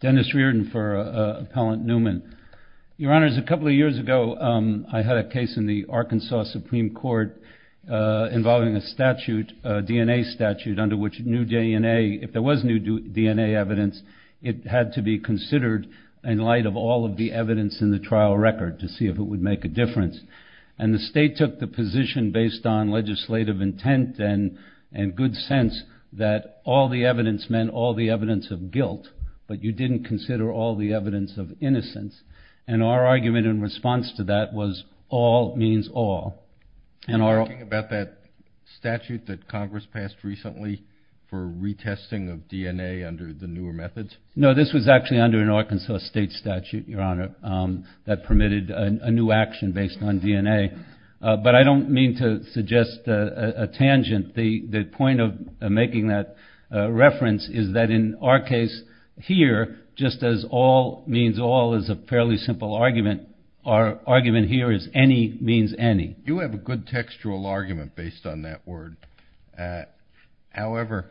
Dennis Reardon for Appellant Newman. Your Honors, a couple of years ago I had a case in the Arkansas Supreme Court involving a statute, a DNA statute, under which new DNA, if there was new DNA evidence, it had to be considered in light of all of the evidence in the trial record to see if it would make a difference. And the state took the position based on legislative intent and in good sense that all the evidence meant all the evidence of guilt, but you didn't consider all the evidence of innocence. And our argument in response to that was all means all. Are you talking about that statute that Congress passed recently for retesting of DNA under the newer methods? No, this was actually under an Arkansas state statute, Your Honor, that permitted a new action based on of making that reference is that in our case here, just as all means all is a fairly simple argument, our argument here is any means any. You have a good textual argument based on that word. However,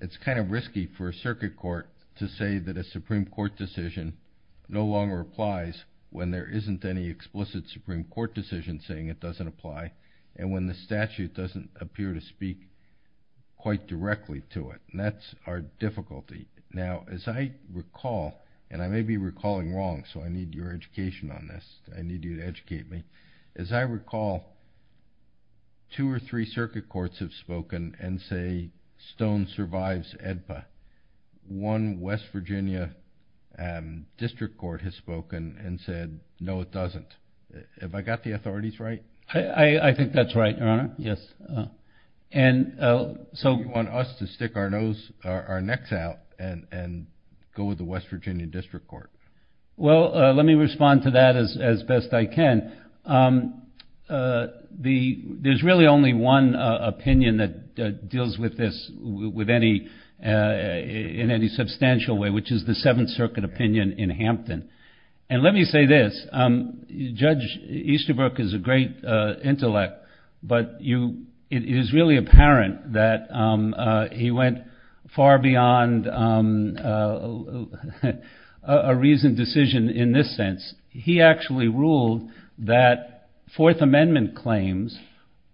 it's kind of risky for a circuit court to say that a Supreme Court decision no longer applies when there isn't any explicit Supreme Court decision saying it doesn't apply, and when the statute doesn't appear to speak quite directly to it. And that's our difficulty. Now, as I recall, and I may be recalling wrong, so I need your education on this. I need you to educate me. As I recall, two or three circuit courts have spoken and say Stone survives AEDPA. One West Virginia District Court has spoken and said no it doesn't. Have I got the authorities right? I think that's right, Your Honor, yes. And so you want us to stick our nose, our necks out and go with the West Virginia District Court? Well, let me respond to that as best I can. There's really only one opinion that deals with this with any, in any substantial way, which is the Seventh Circuit opinion in Hampton. And let me say this, Judge Easterbrook is a great intellect, but you, it is really apparent that he went far beyond a reasoned decision in this sense. He actually ruled that Fourth Amendment claims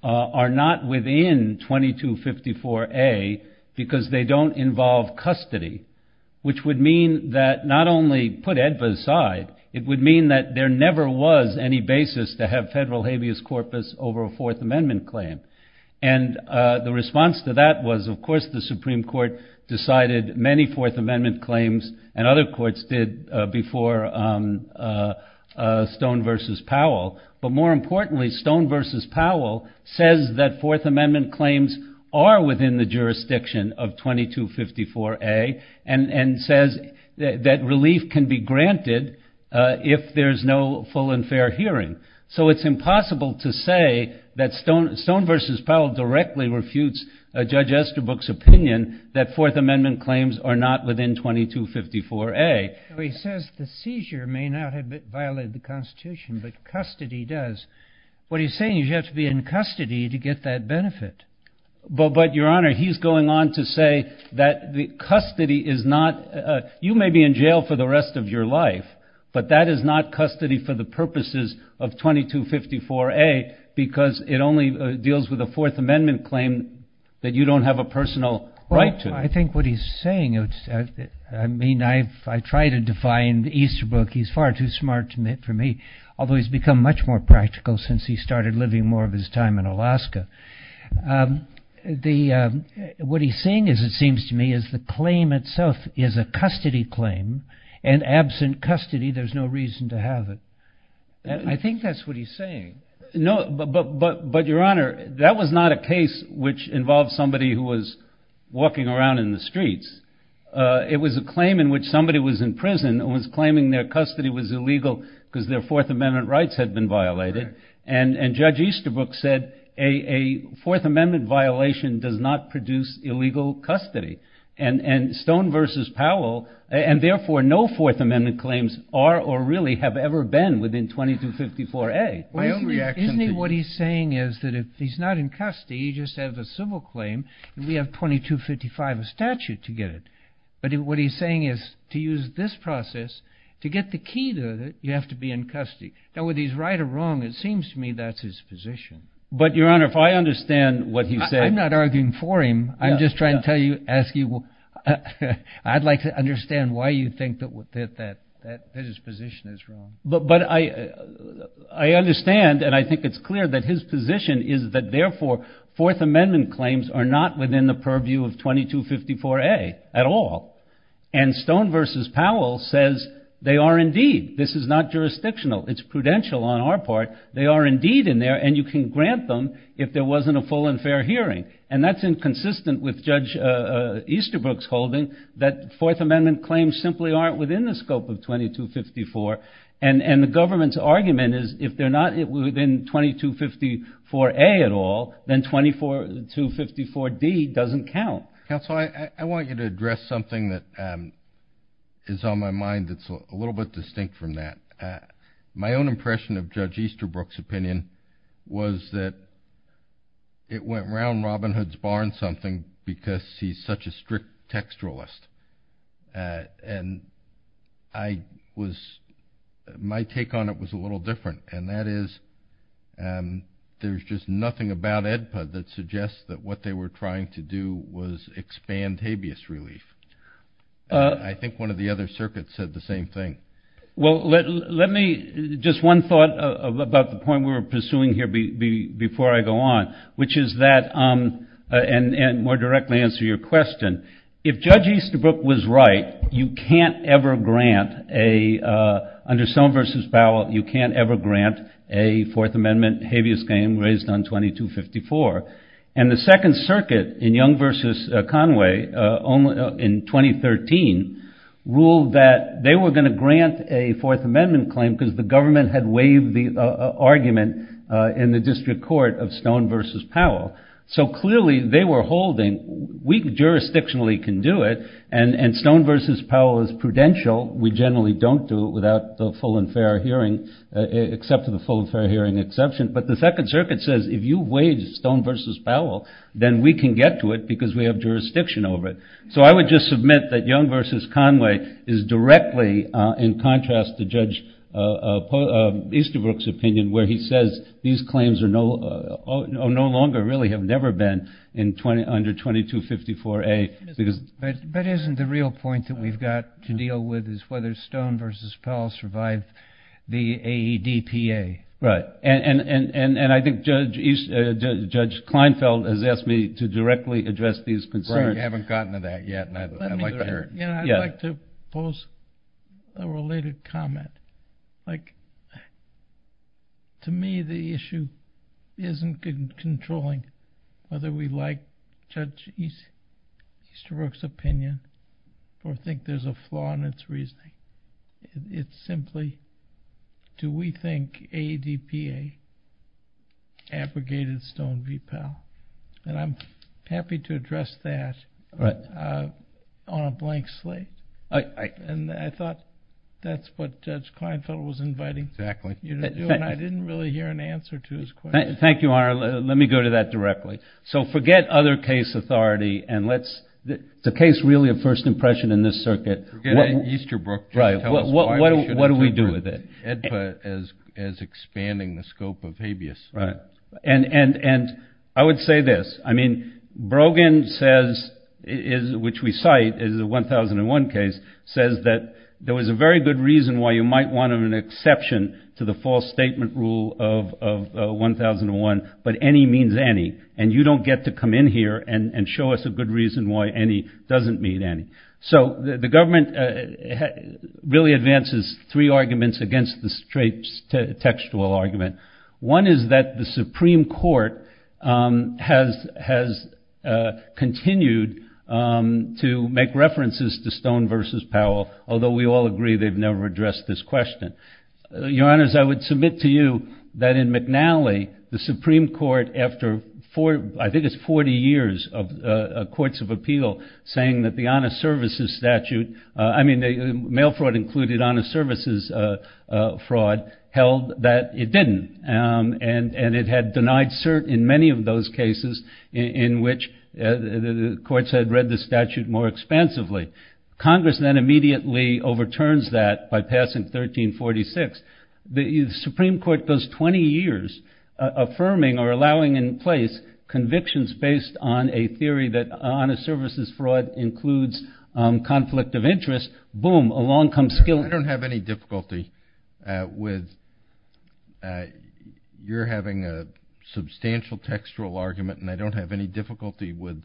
are not within 2254A because they don't involve custody, which would mean that not only put AEDPA aside, it would mean that there never was any basis to have federal habeas corpus over a Fourth Amendment claim. And the response to that was, of course, the Supreme Court decided many Fourth Amendment claims and other courts did before Stone v. Powell. But more importantly, Stone v. Powell says that Fourth Amendment claims are within the 2254A and says that relief can be granted if there's no full and fair hearing. So it's impossible to say that Stone v. Powell directly refutes Judge Easterbrook's opinion that Fourth Amendment claims are not within 2254A. He says the seizure may not have violated the Constitution, but custody does. What he's saying is you have to be in custody is not, you may be in jail for the rest of your life, but that is not custody for the purposes of 2254A because it only deals with a Fourth Amendment claim that you don't have a personal right to. Well, I think what he's saying, I mean, I try to define Easterbrook, he's far too smart for me, although he's become much more practical since he started living more of his time in Alaska. What he's saying is, it claim itself is a custody claim, and absent custody, there's no reason to have it. I think that's what he's saying. No, but Your Honor, that was not a case which involved somebody who was walking around in the streets. It was a claim in which somebody was in prison and was claiming their custody was illegal because their Fourth Amendment rights had been violated. And Judge Easterbrook said, a Fourth Amendment violation does not produce illegal custody. And Stone v. Powell, and therefore no Fourth Amendment claims are or really have ever been within 2254A. Isn't he, what he's saying is that if he's not in custody, he just has a civil claim, and we have 2255, a statute to get it. But what he's saying is, to use this process to get the key to it, you have to be in custody. Now, whether he's right or wrong, it seems to me that's his position. But Your Honor, if I understand what he's saying. I'm not arguing for him. I'm just trying to tell you, ask you, I'd like to understand why you think that his position is wrong. But I understand, and I think it's clear that his position is that therefore, Fourth Amendment claims are not within the purview of 2254A at all. And Stone v. Powell says they are indeed. This is not jurisdictional. It's prudential on our part. They are indeed in there, and you can grant them if there wasn't a full and fair hearing. And that's inconsistent with Judge Easterbrook's holding that Fourth Amendment claims simply aren't within the scope of 2254. And the government's argument is, if they're not within 2254A at all, then 2254D doesn't count. Counsel, I want you to address something that is on my mind that's a little bit distinct from that. My own impression of Judge Easterbrook's opinion was that it went around Robin Hood's barn something because he's such a strict textualist. And my take on it was a little different, and that is there's just nothing about AEDPA that suggests that what they were trying to do was expand habeas relief. I think one of the other circuits said the same thing. Well, let me, just one thought about the point we were pursuing here before I go on, which is that, and more directly answer your question, if Judge Easterbrook was right, you can't ever grant a, under Stone v. Powell, you can't ever grant a Fourth Amendment habeas claim raised on 2254. And the Second Circuit in Young v. Conway in 2013 ruled that they were going to grant a Fourth Amendment claim because the government had waived the argument in the district court of Stone v. Powell. So clearly they were holding, we jurisdictionally can do it, and Stone v. Powell is prudential. We generally don't do it without the full and fair hearing, except for the full and fair hearing exception. But the Second Circuit says if you waive Stone v. Powell, then we can get to it because we have jurisdiction over it. So I would just submit that Young v. Conway is directly, in contrast to Judge Easterbrook's opinion, where he says these claims are no longer, really have never been under 2254A. But isn't the real point that we've got to deal with is whether Stone v. Powell survived the AEDPA? Right. And I think Judge Kleinfeld has asked me to directly address these concerns. I haven't gotten to that yet and I'd like to hear it. Yeah, I'd like to pose a related comment. Like, to me the issue isn't controlling whether we like Judge Easterbrook's opinion or think there's a flaw in its reasoning. It's simply, do we think AEDPA abrogated Stone v. Powell? And I'm happy to address that on a blank slate. And I thought that's what Judge Kleinfeld was inviting you to do, and I didn't really hear an answer to his question. Thank you, Your Honor. Let me go to that directly. So forget other case authority, and let's, is the case really a first impression in this circuit? Forget Easterbrook, just tell us why we should have taken AEDPA as expanding the scope of habeas. Right. And I would say this. I mean, Brogan says, which we cite as a 1001 case, says that there was a very good reason why you might want an exception to the false statement rule of 1001, but any means any, and you don't get to come in here and show us a good reason why any doesn't mean any. So the government really advances three arguments against the straight textual argument. One is that the Supreme Court has has continued to make references to Stone v. Powell, although we all agree they've never addressed this question. Your Honors, I would submit to you that in McNally, the Supreme Court, after I think it's 40 years of courts of appeal, saying that the honest services statute, I mean, mail fraud included honest services fraud, held that it didn't, and it had denied cert in many of those cases in which the courts had read the statute more expansively. Congress then immediately overturns that by passing 1346. The Supreme Court goes 20 years affirming or allowing in place convictions based on a theory that honest services fraud includes conflict of interest. Boom, along comes skill. I don't have any difficulty with your having a substantial textual argument, and I don't have any difficulty with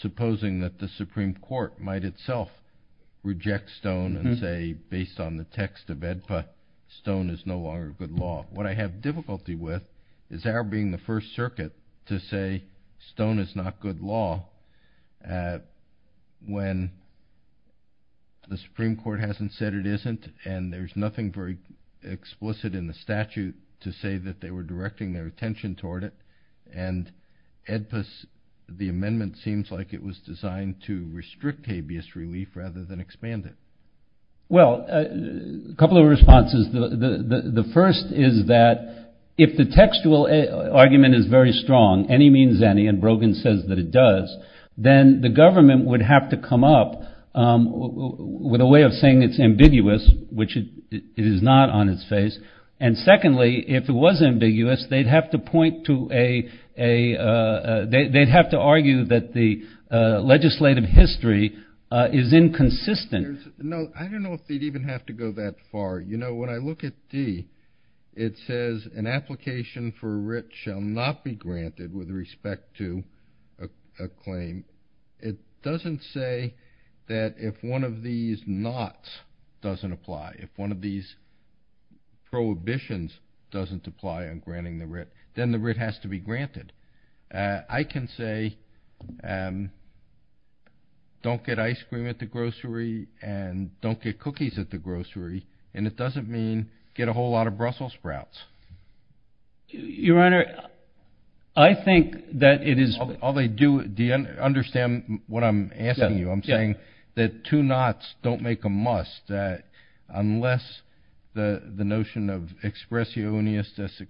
supposing that the Supreme Court might itself reject Stone and say, based on the text of it, but Stone is no longer good law. What I have difficulty with is our being the first circuit to say Stone is not good law when the Supreme Court hasn't said it isn't, and there's nothing very explicit in the statute to say that they were directing their attention toward it, and the amendment seems like it was designed to restrict habeas relief rather than expand it. Well, a couple of responses. The first is that if the textual argument is very strong, any means any, and Brogan says that it does, then the government would have to come up with a way of saying it's ambiguous, which it is not on its face. And secondly, if it was ambiguous, they'd have to point to a they'd have to argue that the legislative history is inconsistent. No, I don't know if they'd even have to go that far. You know, when I look at D, it says an application for a writ shall not be granted with respect to a claim. It doesn't say that if one of these nots doesn't apply, if one of these prohibitions doesn't apply on granting the writ, then the writ has to be granted. I can say don't get ice cream at the grocery and don't get cookies at the grocery, and it doesn't mean get a whole lot of Brussels sprouts. Your Honor, I think that it is. All they do, do you understand what I'm asking you? I'm saying that two nots don't make a must, that unless the notion of expressionist,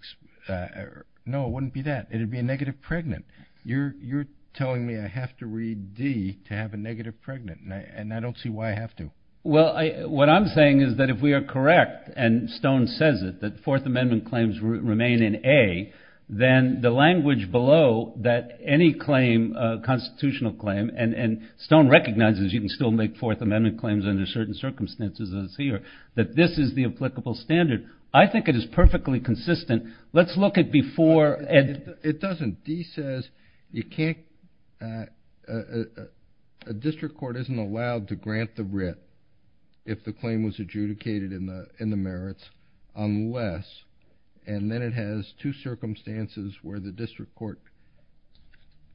no, it wouldn't be that. It would be a negative pregnant. You're telling me I have to read D to have a negative pregnant, and I don't see why I have to. Well, what I'm saying is that if we are correct, and Stone says it, that Fourth Amendment claims remain in A, then the language below that any claim, constitutional claim, and Stone recognizes you can still make Fourth Amendment claims under certain circumstances that this is the applicable standard, I think it is perfectly consistent. Let's look at before. It doesn't. D says you can't – a district court isn't allowed to grant the writ if the claim was adjudicated in the merits unless, and then it has two circumstances where the district court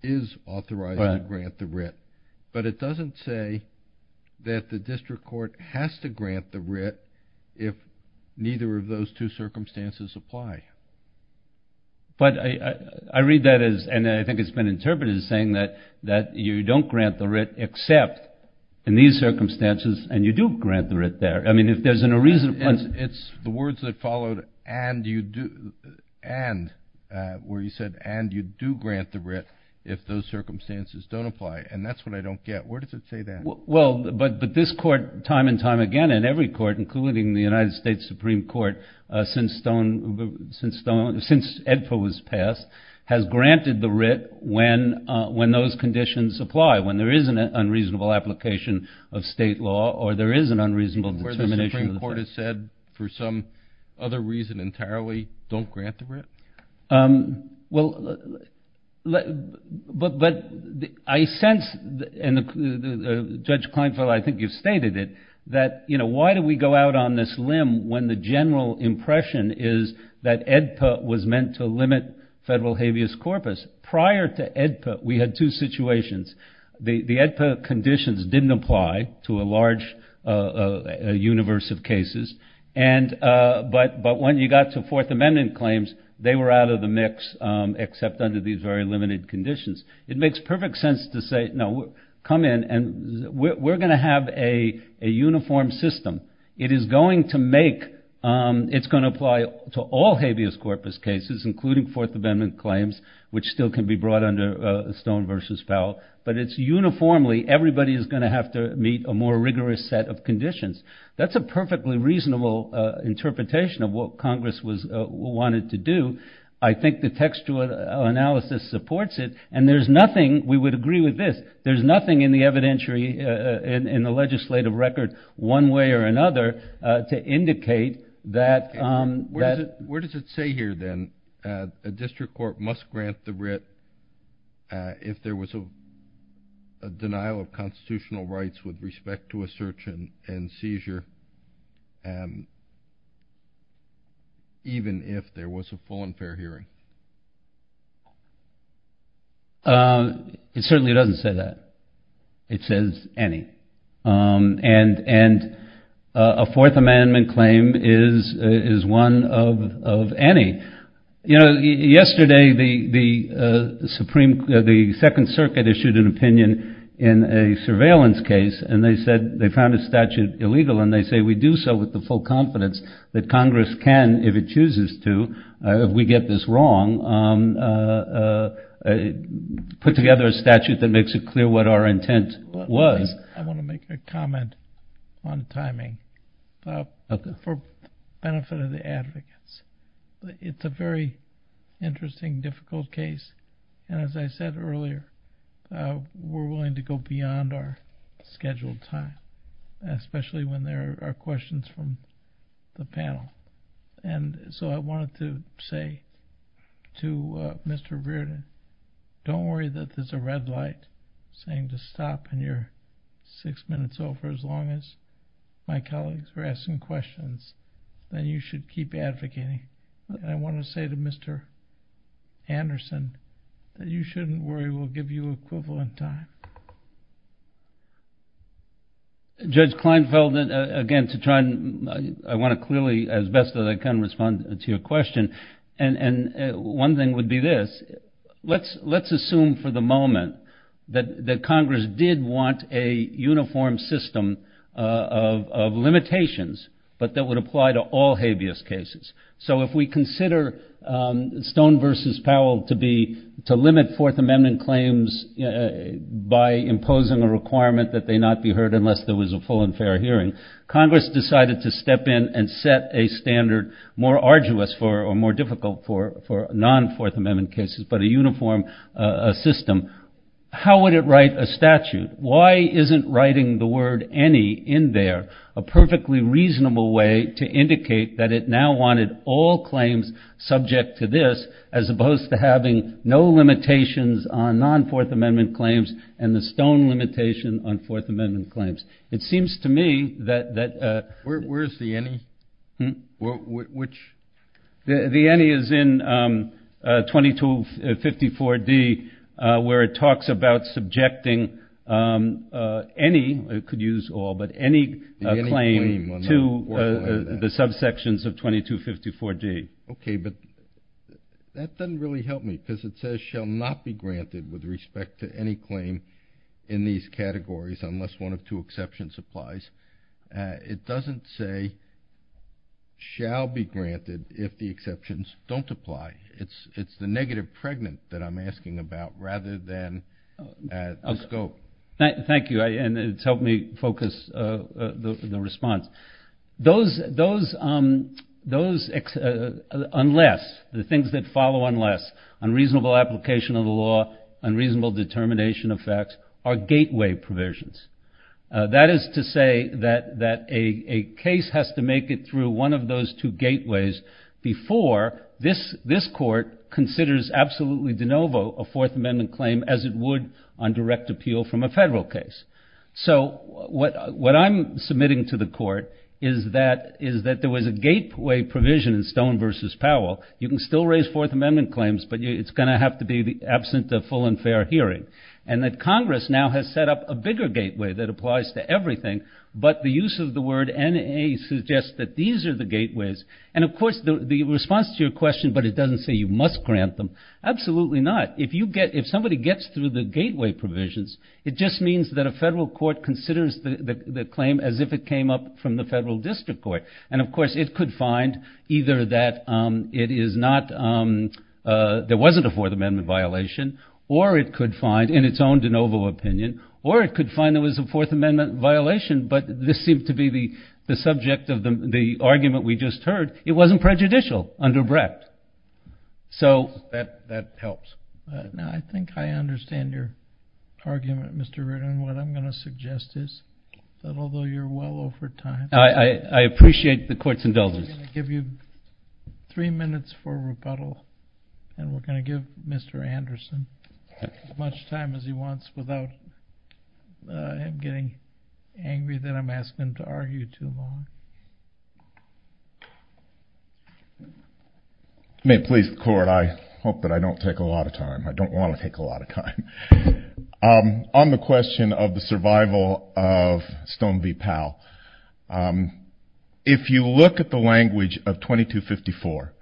is authorized to grant the writ. But it doesn't say that the district court has to grant the writ if neither of those two circumstances apply. But I read that as, and I think it's been interpreted as saying that you don't grant the writ except in these circumstances, and you do grant the writ there. I mean, if there's no reason – It's the words that followed, and you do, and, where you said, and you do grant the writ if those circumstances don't apply, and that's what I don't get. Where does it say that? Well, but this court time and time again, and every court, including the United States Supreme Court, since Stone – since Edford was passed, has granted the writ when those conditions apply, when there is an unreasonable application of state law or there is an unreasonable determination – and you said, for some other reason entirely, don't grant the writ? Well, but I sense, and Judge Kleinfeld, I think you've stated it, that, you know, why do we go out on this limb when the general impression is that AEDPA was meant to limit federal habeas corpus? Prior to AEDPA, we had two situations. The AEDPA conditions didn't apply to a large universe of cases, but when you got to Fourth Amendment claims, they were out of the mix, except under these very limited conditions. It makes perfect sense to say, no, come in, and we're going to have a uniform system. It is going to make – it's going to apply to all habeas corpus cases, including Fourth Amendment claims, which still can be brought under Stone v. Powell, but it's uniformly everybody is going to have to meet a more rigorous set of conditions. That's a perfectly reasonable interpretation of what Congress wanted to do. I think the textual analysis supports it, and there's nothing – we would agree with this – there's nothing in the evidentiary, in the legislative record, one way or another, to indicate that – would Congress grant the writ if there was a denial of constitutional rights with respect to a search and seizure, even if there was a full and fair hearing? It certainly doesn't say that. It says any, and a Fourth Amendment claim is one of any. Yesterday, the Second Circuit issued an opinion in a surveillance case, and they said they found a statute illegal, and they say we do so with the full confidence that Congress can, if it chooses to, if we get this wrong, put together a statute that makes it clear what our intent was. I want to make a comment on timing for the benefit of the advocates. It's a very interesting, difficult case, and as I said earlier, we're willing to go beyond our scheduled time, especially when there are questions from the panel. And so I wanted to say to Mr. Reardon, don't worry that there's a red light saying to stop, and you're six minutes over, as long as my colleagues are asking questions. Then you should keep advocating. I want to say to Mr. Anderson that you shouldn't worry we'll give you equivalent time. Judge Kleinfeld, again, I want to clearly, as best as I can, respond to your question, and one thing would be this. Let's assume for the moment that Congress did want a uniform system of limitations, but that would apply to all habeas cases. So if we consider Stone v. Powell to limit Fourth Amendment claims by imposing a requirement that they not be heard unless there was a full and fair hearing, Congress decided to step in and set a standard more arduous or more difficult for non-Fourth Amendment cases, but a uniform system. How would it write a statute? Why isn't writing the word any in there a perfectly reasonable way to indicate that it now wanted all claims subject to this as opposed to having no limitations on non-Fourth Amendment claims and the Stone limitation on Fourth Amendment claims? It seems to me that- Where is the any? Which- The any is in 2254d where it talks about subjecting any, it could use all, but any claim to the subsections of 2254d. Okay, but that doesn't really help me because it says shall not be granted with respect to any claim in these categories unless one of two exceptions applies. It doesn't say shall be granted if the exceptions don't apply. It's the negative pregnant that I'm asking about rather than the scope. Thank you, and it's helped me focus the response. Those unless, the things that follow unless, unreasonable application of the law, unreasonable determination of facts are gateway provisions. That is to say that a case has to make it through one of those two gateways before this court considers absolutely de novo a Fourth Amendment claim as it would on direct appeal from a federal case. So what I'm submitting to the court is that there was a gateway provision in Stone v. Powell. You can still raise Fourth Amendment claims, but it's going to have to be absent of full and fair hearing. And that Congress now has set up a bigger gateway that applies to everything, but the use of the word NA suggests that these are the gateways. And of course the response to your question, but it doesn't say you must grant them, absolutely not. If you get, if somebody gets through the gateway provisions, it just means that a federal court considers the claim as if it came up from the federal district court. And of course it could find either that it is not, there wasn't a Fourth Amendment violation, or it could find in its own de novo opinion, or it could find there was a Fourth Amendment violation, but this seemed to be the subject of the argument we just heard. It wasn't prejudicial under Brecht. So that helps. Now I think I understand your argument, Mr. Reardon. What I'm going to suggest is that although you're well over time. I appreciate the court's indulgence. I'm going to give you three minutes for rebuttal, and we're going to give Mr. Anderson as much time as he wants without him getting angry that I'm asking him to argue too long. May it please the court, I hope that I don't take a lot of time. I don't want to take a lot of time. On the question of the survival of Stone v. Powell, if you look at the language of 2254,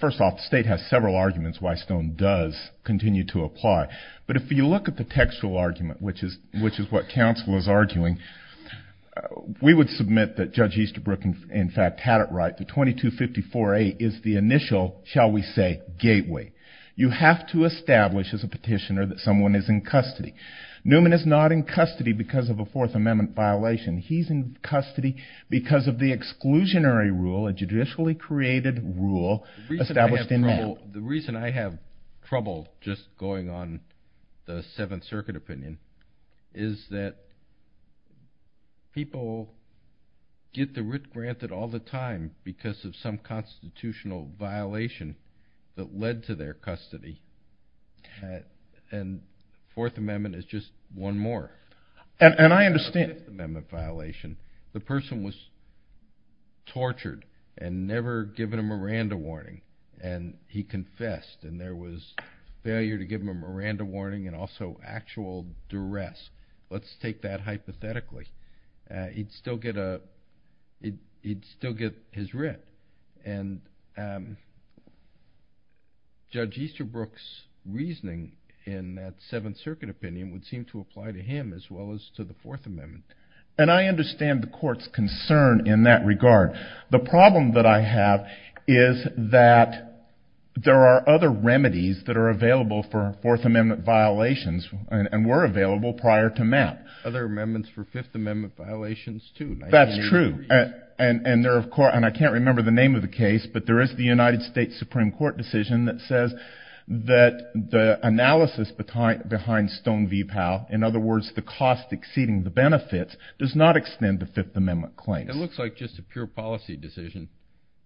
first off, the state has several arguments why Stone does continue to apply. But if you look at the textual argument, which is what counsel is arguing, we would submit that Judge Easterbrook in fact had it right that 2254A is the initial, shall we say, gateway. You have to establish as a petitioner that someone is in custody. Newman is not in custody because of a Fourth Amendment violation. He's in custody because of the exclusionary rule, a judicially created rule established in that. The reason I have trouble just going on the Seventh Circuit opinion is that people get the writ granted all the time because of some constitutional violation that led to their custody. And the Fourth Amendment is just one more. And I understand the Fourth Amendment violation. The person was tortured and never given a Miranda warning. And he confessed and there was failure to give him a Miranda warning and also actual duress. Let's take that hypothetically. He'd still get his writ. And Judge Easterbrook's reasoning in that Seventh Circuit opinion would seem to apply to him as well as to the Fourth Amendment. And I understand the court's concern in that regard. The problem that I have is that there are other remedies that are available for Fourth Amendment violations and were available prior to Matt. Other amendments for Fifth Amendment violations too. That's true. And I can't remember the name of the case, but there is the United States Supreme Court decision that says that the analysis behind Stone v. Powell, in other words the cost exceeding the benefits, does not extend to Fifth Amendment claims. It looks like just a pure policy decision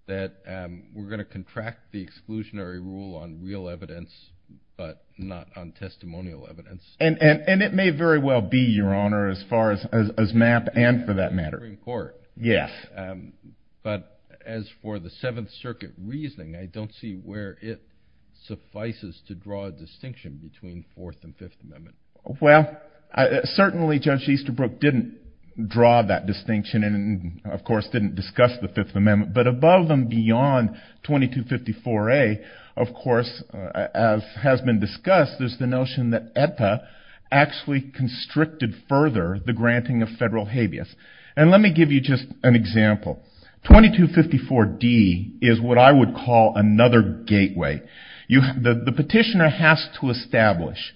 that we're going to contract the exclusionary rule on real evidence, but not on testimonial evidence. And it may very well be, Your Honor, as far as Matt and for that matter. The Supreme Court. Yes. But as for the Seventh Circuit reasoning, I don't see where it suffices to draw a distinction between Fourth and Fifth Amendments. Well, certainly Judge Easterbrook didn't draw that distinction and, of course, didn't discuss the Fifth Amendment. But above and beyond 2254A, of course, as has been discussed, there's the notion that AETA actually constricted further the granting of federal habeas. And let me give you just an example. 2254D is what I would call another gateway. The petitioner has to establish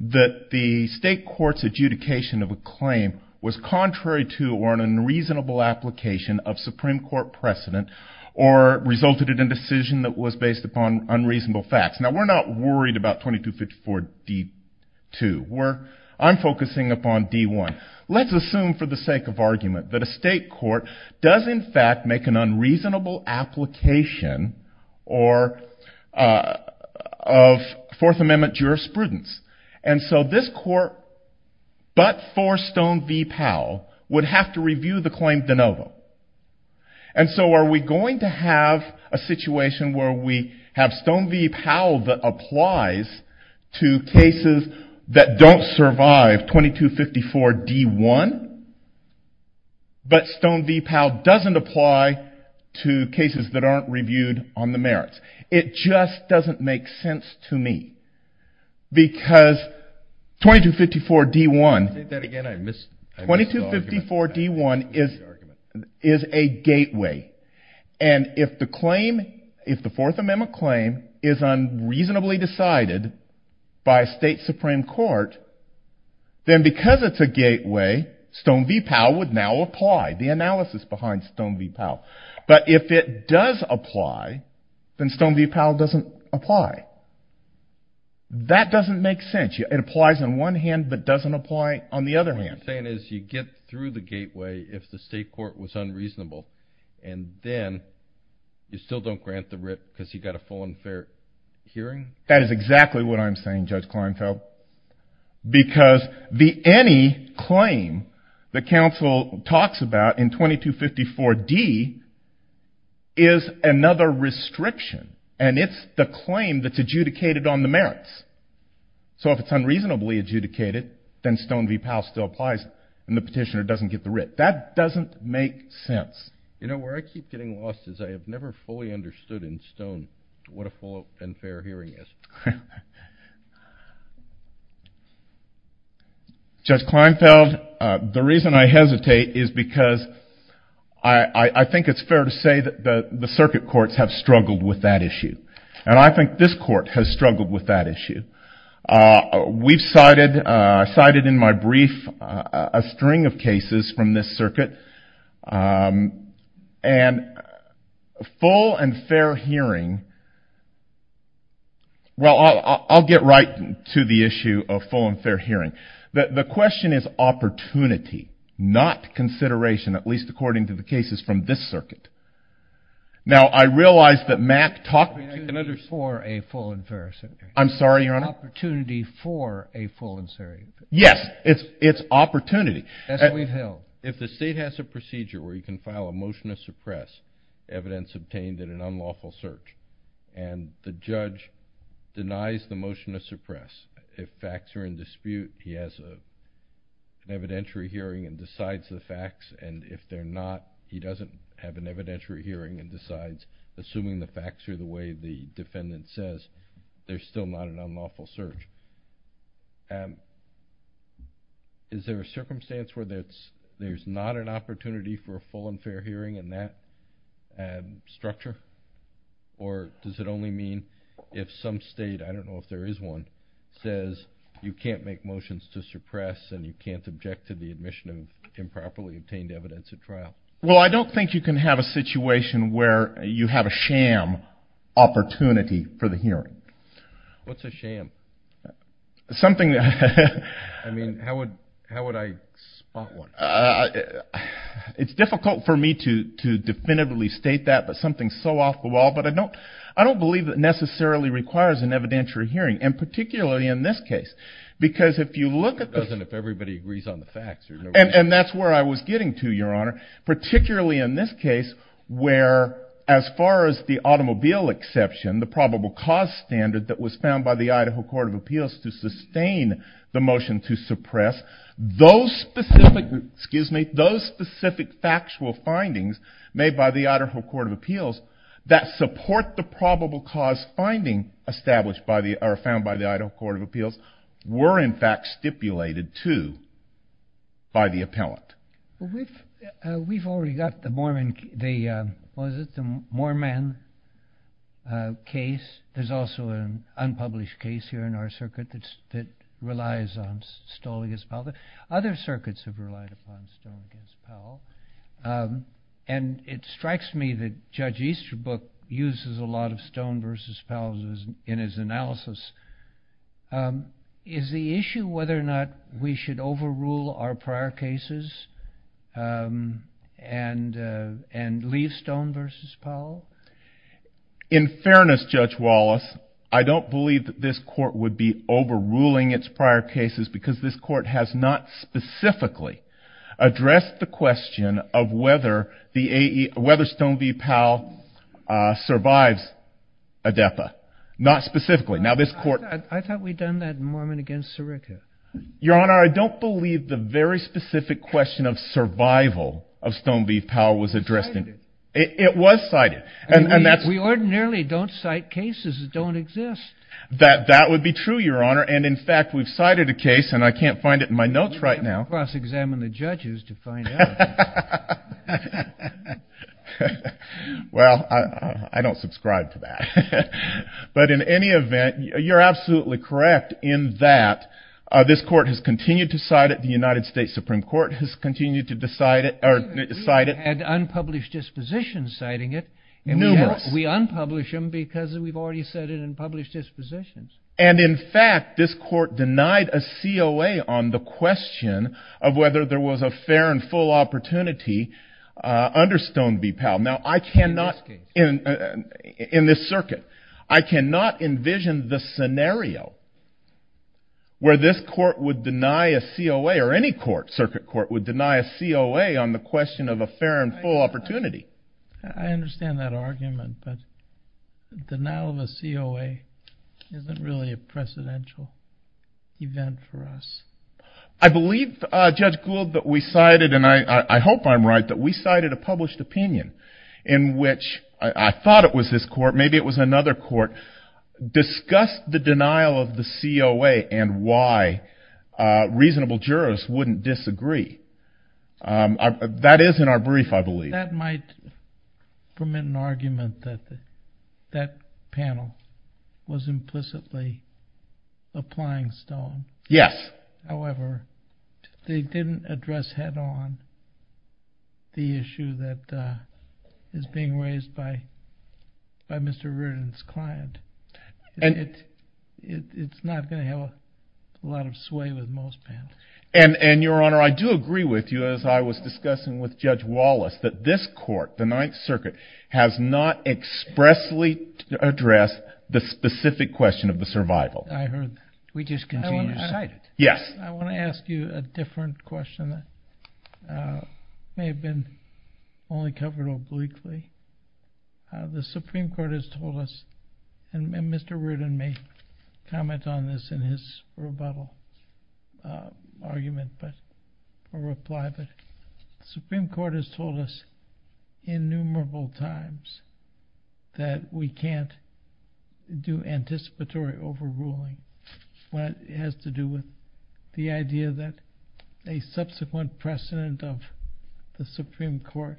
that the state court's adjudication of a claim was contrary to or an unreasonable application of Supreme Court precedent or resulted in a decision that was based upon unreasonable facts. Now, we're not worried about 2254D2. I'm focusing upon D1. Let's assume for the sake of argument that a state court does, in fact, make an unreasonable application of Fourth Amendment jurisprudence. And so this court, but for Stone v. Powell, would have to review the claim de novo. And so are we going to have a situation where we have Stone v. Powell that applies to cases that don't survive 2254D1, but Stone v. Powell doesn't apply to cases that aren't reviewed on the merits? It just doesn't make sense to me, because 2254D1... is a gateway. And if the Fourth Amendment claim is unreasonably decided by a state Supreme Court, then because it's a gateway, Stone v. Powell would now apply. The analysis behind Stone v. Powell. But if it does apply, then Stone v. Powell doesn't apply. That doesn't make sense. It applies on one hand, but doesn't apply on the other hand. So what you're saying is you get through the gateway if the state court was unreasonable, and then you still don't grant the writ because you got a full and fair hearing? That is exactly what I'm saying, Judge Kleinfeld. Because the any claim that counsel talks about in 2254D is another restriction. And it's the claim that's adjudicated on the merits. So if it's unreasonably adjudicated, then Stone v. Powell still applies, and the petitioner doesn't get the writ. That doesn't make sense. You know, where I keep getting lost is I have never fully understood in Stone what a full and fair hearing is. Judge Kleinfeld, the reason I hesitate is because I think it's fair to say that the circuit courts have struggled with that issue. And I think this court has struggled with that issue. We've cited in my brief a string of cases from this circuit. And full and fair hearing, well, I'll get right to the issue of full and fair hearing. The question is opportunity, not consideration, at least according to the cases from this circuit. Now, I realize that Mack talked to another... Opportunity for a full and fair hearing. I'm sorry, Your Honor? Opportunity for a full and fair hearing. Yes, it's opportunity. That's what we've held. If the state has a procedure where you can file a motion to suppress evidence obtained in an unlawful search, and the judge denies the motion to suppress, if facts are in dispute, he has an evidentiary hearing and decides the facts, and if they're not, he doesn't have an evidentiary hearing and decides, assuming the facts are the way the defendant says, there's still not an unlawful search. Is there a circumstance where there's not an opportunity for a full and fair hearing in that structure? Or does it only mean if some state, I don't know if there is one, says you can't make motions to suppress and you can't object to the admission of improperly obtained evidence at trial? Well, I don't think you can have a situation where you have a sham opportunity for the hearing. What's a sham? Something... I mean, how would I spot one? It's difficult for me to definitively state that, but something so off the wall, but I don't believe it necessarily requires an evidentiary hearing, and particularly in this case. Because if you look at the... It doesn't if everybody agrees on the facts. And that's where I was getting to, Your Honor. Particularly in this case, where as far as the automobile exception, the probable cause standard that was found by the Idaho Court of Appeals to sustain the motion to suppress, those specific factual findings made by the Idaho Court of Appeals, that support the probable cause finding established by the... or found by the Idaho Court of Appeals, were in fact stipulated to by the appellant. We've already got the Mormon... What is it? The Mormon case. There's also an unpublished case here in our circuit that relies on Stoll v. Powell. Other circuits have relied upon Stoll v. Powell. And it strikes me that Judge Easterbrook uses a lot of Stoll v. Powell in his analysis. Is the issue whether or not we should overrule our prior cases and leave Stoll v. Powell? In fairness, Judge Wallace, I don't believe that this court would be overruling its prior cases, because this court has not specifically addressed the question of whether Stoll v. Powell survives ADEPA. Not specifically. I thought we'd done that in Mormon against Sirica. Your Honor, I don't believe the very specific question of survival of Stoll v. Powell was addressed in... It was cited. It was cited. We ordinarily don't cite cases that don't exist. That would be true, Your Honor. And, in fact, we've cited a case, and I can't find it in my notes right now... Cross-examine the judges to find out. Well, I don't subscribe to that. But in any event, you're absolutely correct in that this court has continued to cite it. The United States Supreme Court has continued to cite it. We've had unpublished dispositions citing it. Numerous. We unpublish them because we've already cited and published dispositions. And, in fact, this court denied a COA on the question of whether there was a fair and full opportunity under Stoll v. Powell. Now, I cannot, in this circuit, I cannot envision the scenario where this court would deny a COA, or any circuit court would deny a COA on the question of a fair and full opportunity. I understand that argument, but denial of a COA isn't really a precedential event for us. I believe, Judge Gould, that we cited, and I hope I'm right, that we cited a published opinion in which I thought it was this court, maybe it was another court, discussed the denial of the COA and why reasonable jurists wouldn't disagree. That is in our brief, I believe. That might permit an argument that that panel was implicitly applying Stoll. Yes. However, they didn't address head-on the issue that is being raised by Mr. Reardon's client. It's not going to have a lot of sway with most panels. And, Your Honor, I do agree with you, as I was discussing with Judge Wallace, that this court, the Ninth Circuit, has not expressly addressed the specific question of the survival. I heard that. We just continue to cite it. Yes. I want to ask you a different question that may have been only covered obliquely. The Supreme Court has told us, and Mr. Reardon may comment on this in his rebuttal argument or reply, but the Supreme Court has told us innumerable times that we can't do anticipatory overruling when it has to do with the idea that a subsequent precedent of the Supreme Court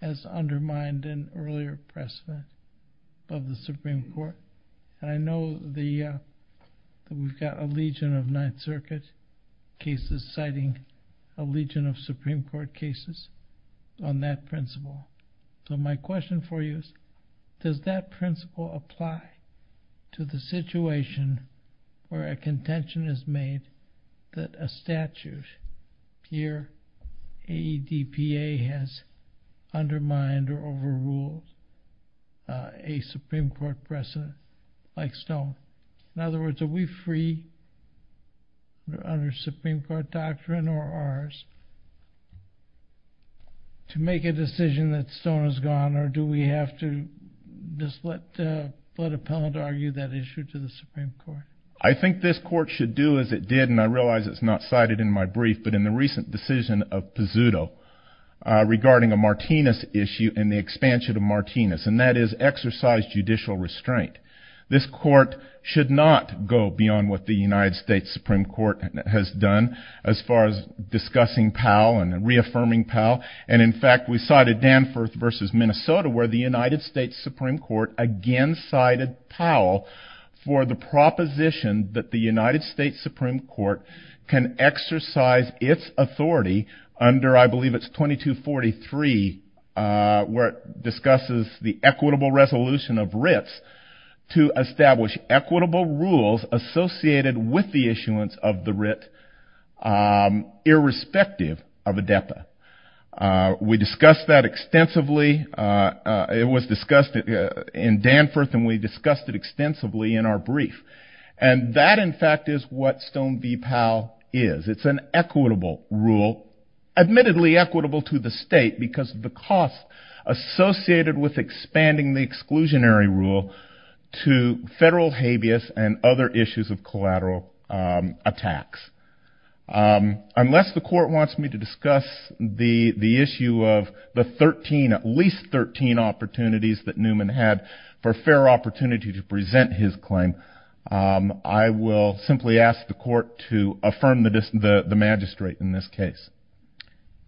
has undermined an earlier precedent of the Supreme Court. And I know that we've got a legion of Ninth Circuit cases citing a legion of Supreme Court cases on that principle. So my question for you is, does that principle apply to the situation where a contention is made that a statute here, AEDPA, has undermined or overruled a Supreme Court precedent like Stone? In other words, are we free under Supreme Court doctrine or ours to make a decision that Stone has gone, or do we have to just let Appellant argue that issue to the Supreme Court? I think this court should do as it did, and I realize it's not cited in my brief, but in the recent decision of Pizzuto regarding a Martinez issue and the expansion of Martinez, and that is exercise judicial restraint. This court should not go beyond what the United States Supreme Court has done as far as discussing Powell and reaffirming Powell, and in fact we cited Danforth v. Minnesota where the United States Supreme Court again cited Powell for the proposition that the United States Supreme Court can exercise its authority under I believe it's 2243 where it discusses the equitable resolution of writs to establish equitable rules associated with the issuance of the writ irrespective of AEDPA. We discussed that extensively. It was discussed in Danforth and we discussed it extensively in our brief, and that in fact is what Stone v. Powell is. It's an equitable rule, admittedly equitable to the state, because of the cost associated with expanding the exclusionary rule to federal habeas and other issues of collateral attacks. Unless the court wants me to discuss the issue of the 13, at least 13 opportunities that Newman had for fair opportunity to present his claim, I will simply ask the court to affirm the magistrate in this case.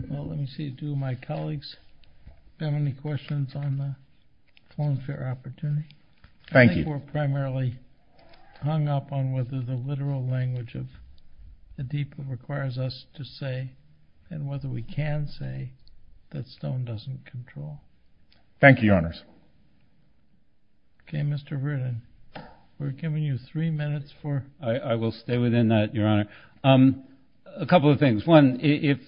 Let me see if two of my colleagues have any questions on the form of fair opportunity. Thank you. I think we're primarily hung up on whether the literal language of AEDPA requires us to say and whether we can say that Stone doesn't control. Thank you, Your Honors. Okay, Mr. Verdin. We're giving you three minutes for- I will stay within that, Your Honor. A couple of things. One, if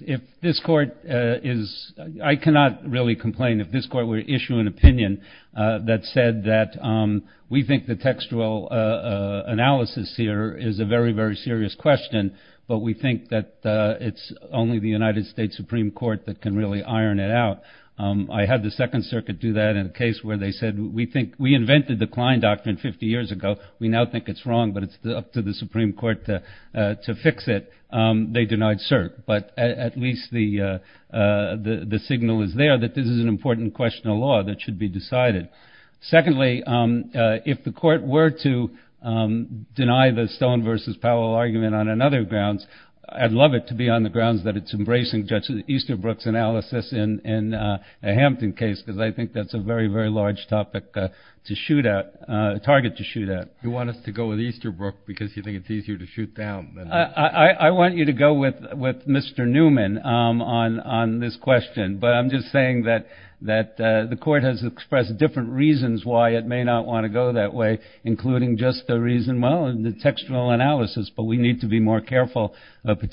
this court is- I cannot really complain if this court were to issue an opinion that said that we think the textual analysis here is a very, very serious question, but we think that it's only the United States Supreme Court that can really iron it out. I had the Second Circuit do that in a case where they said, we invented the Klein Doctrine 50 years ago. We now think it's wrong, but it's up to the Supreme Court to fix it. They denied cert. But at least the signal is there that this is an important question of law that should be decided. Secondly, if the court were to deny the Stone versus Powell argument on another grounds, I'd love it to be on the grounds that it's embracing Judge Easterbrook's analysis in a Hampton case, because I think that's a very, very large target to shoot at. You want us to go with Easterbrook because you think it's easier to shoot down? I want you to go with Mr. Newman on this question, but I'm just saying that the court has expressed different reasons why it may not want to go that way, including just the reason, well, the textual analysis, but we need to be more careful. Thank you.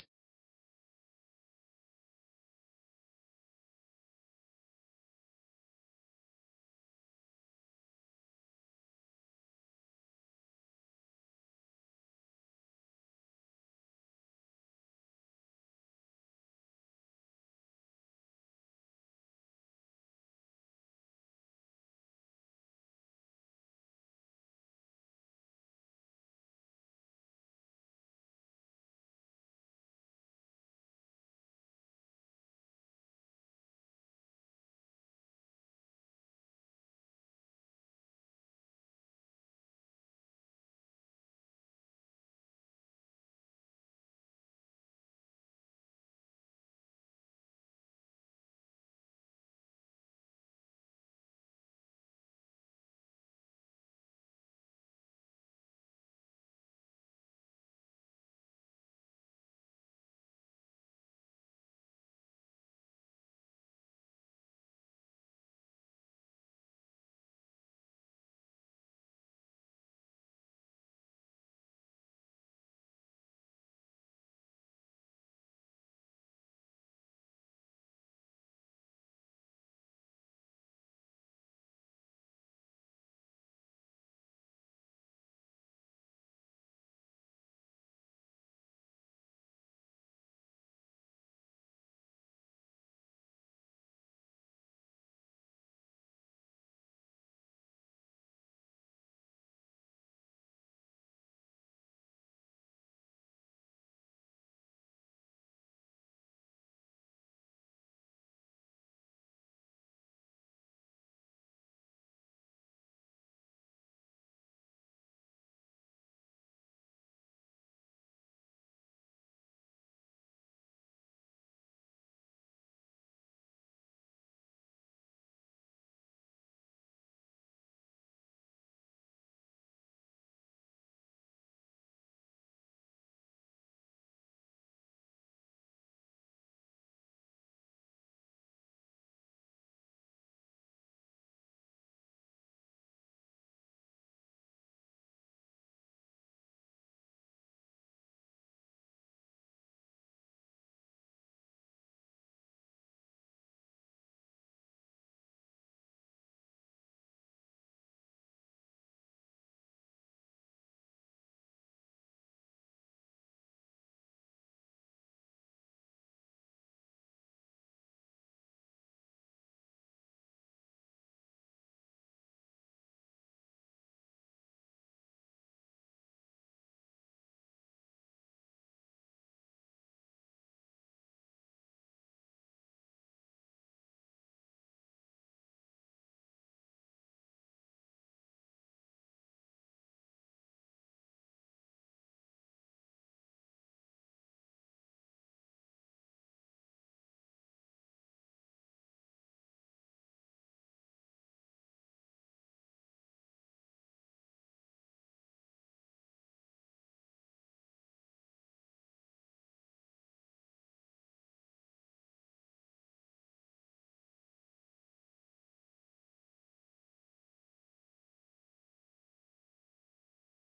Thank you. Thank you. Thank you. Thank you. Thank you.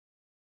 Thank you. Thank you.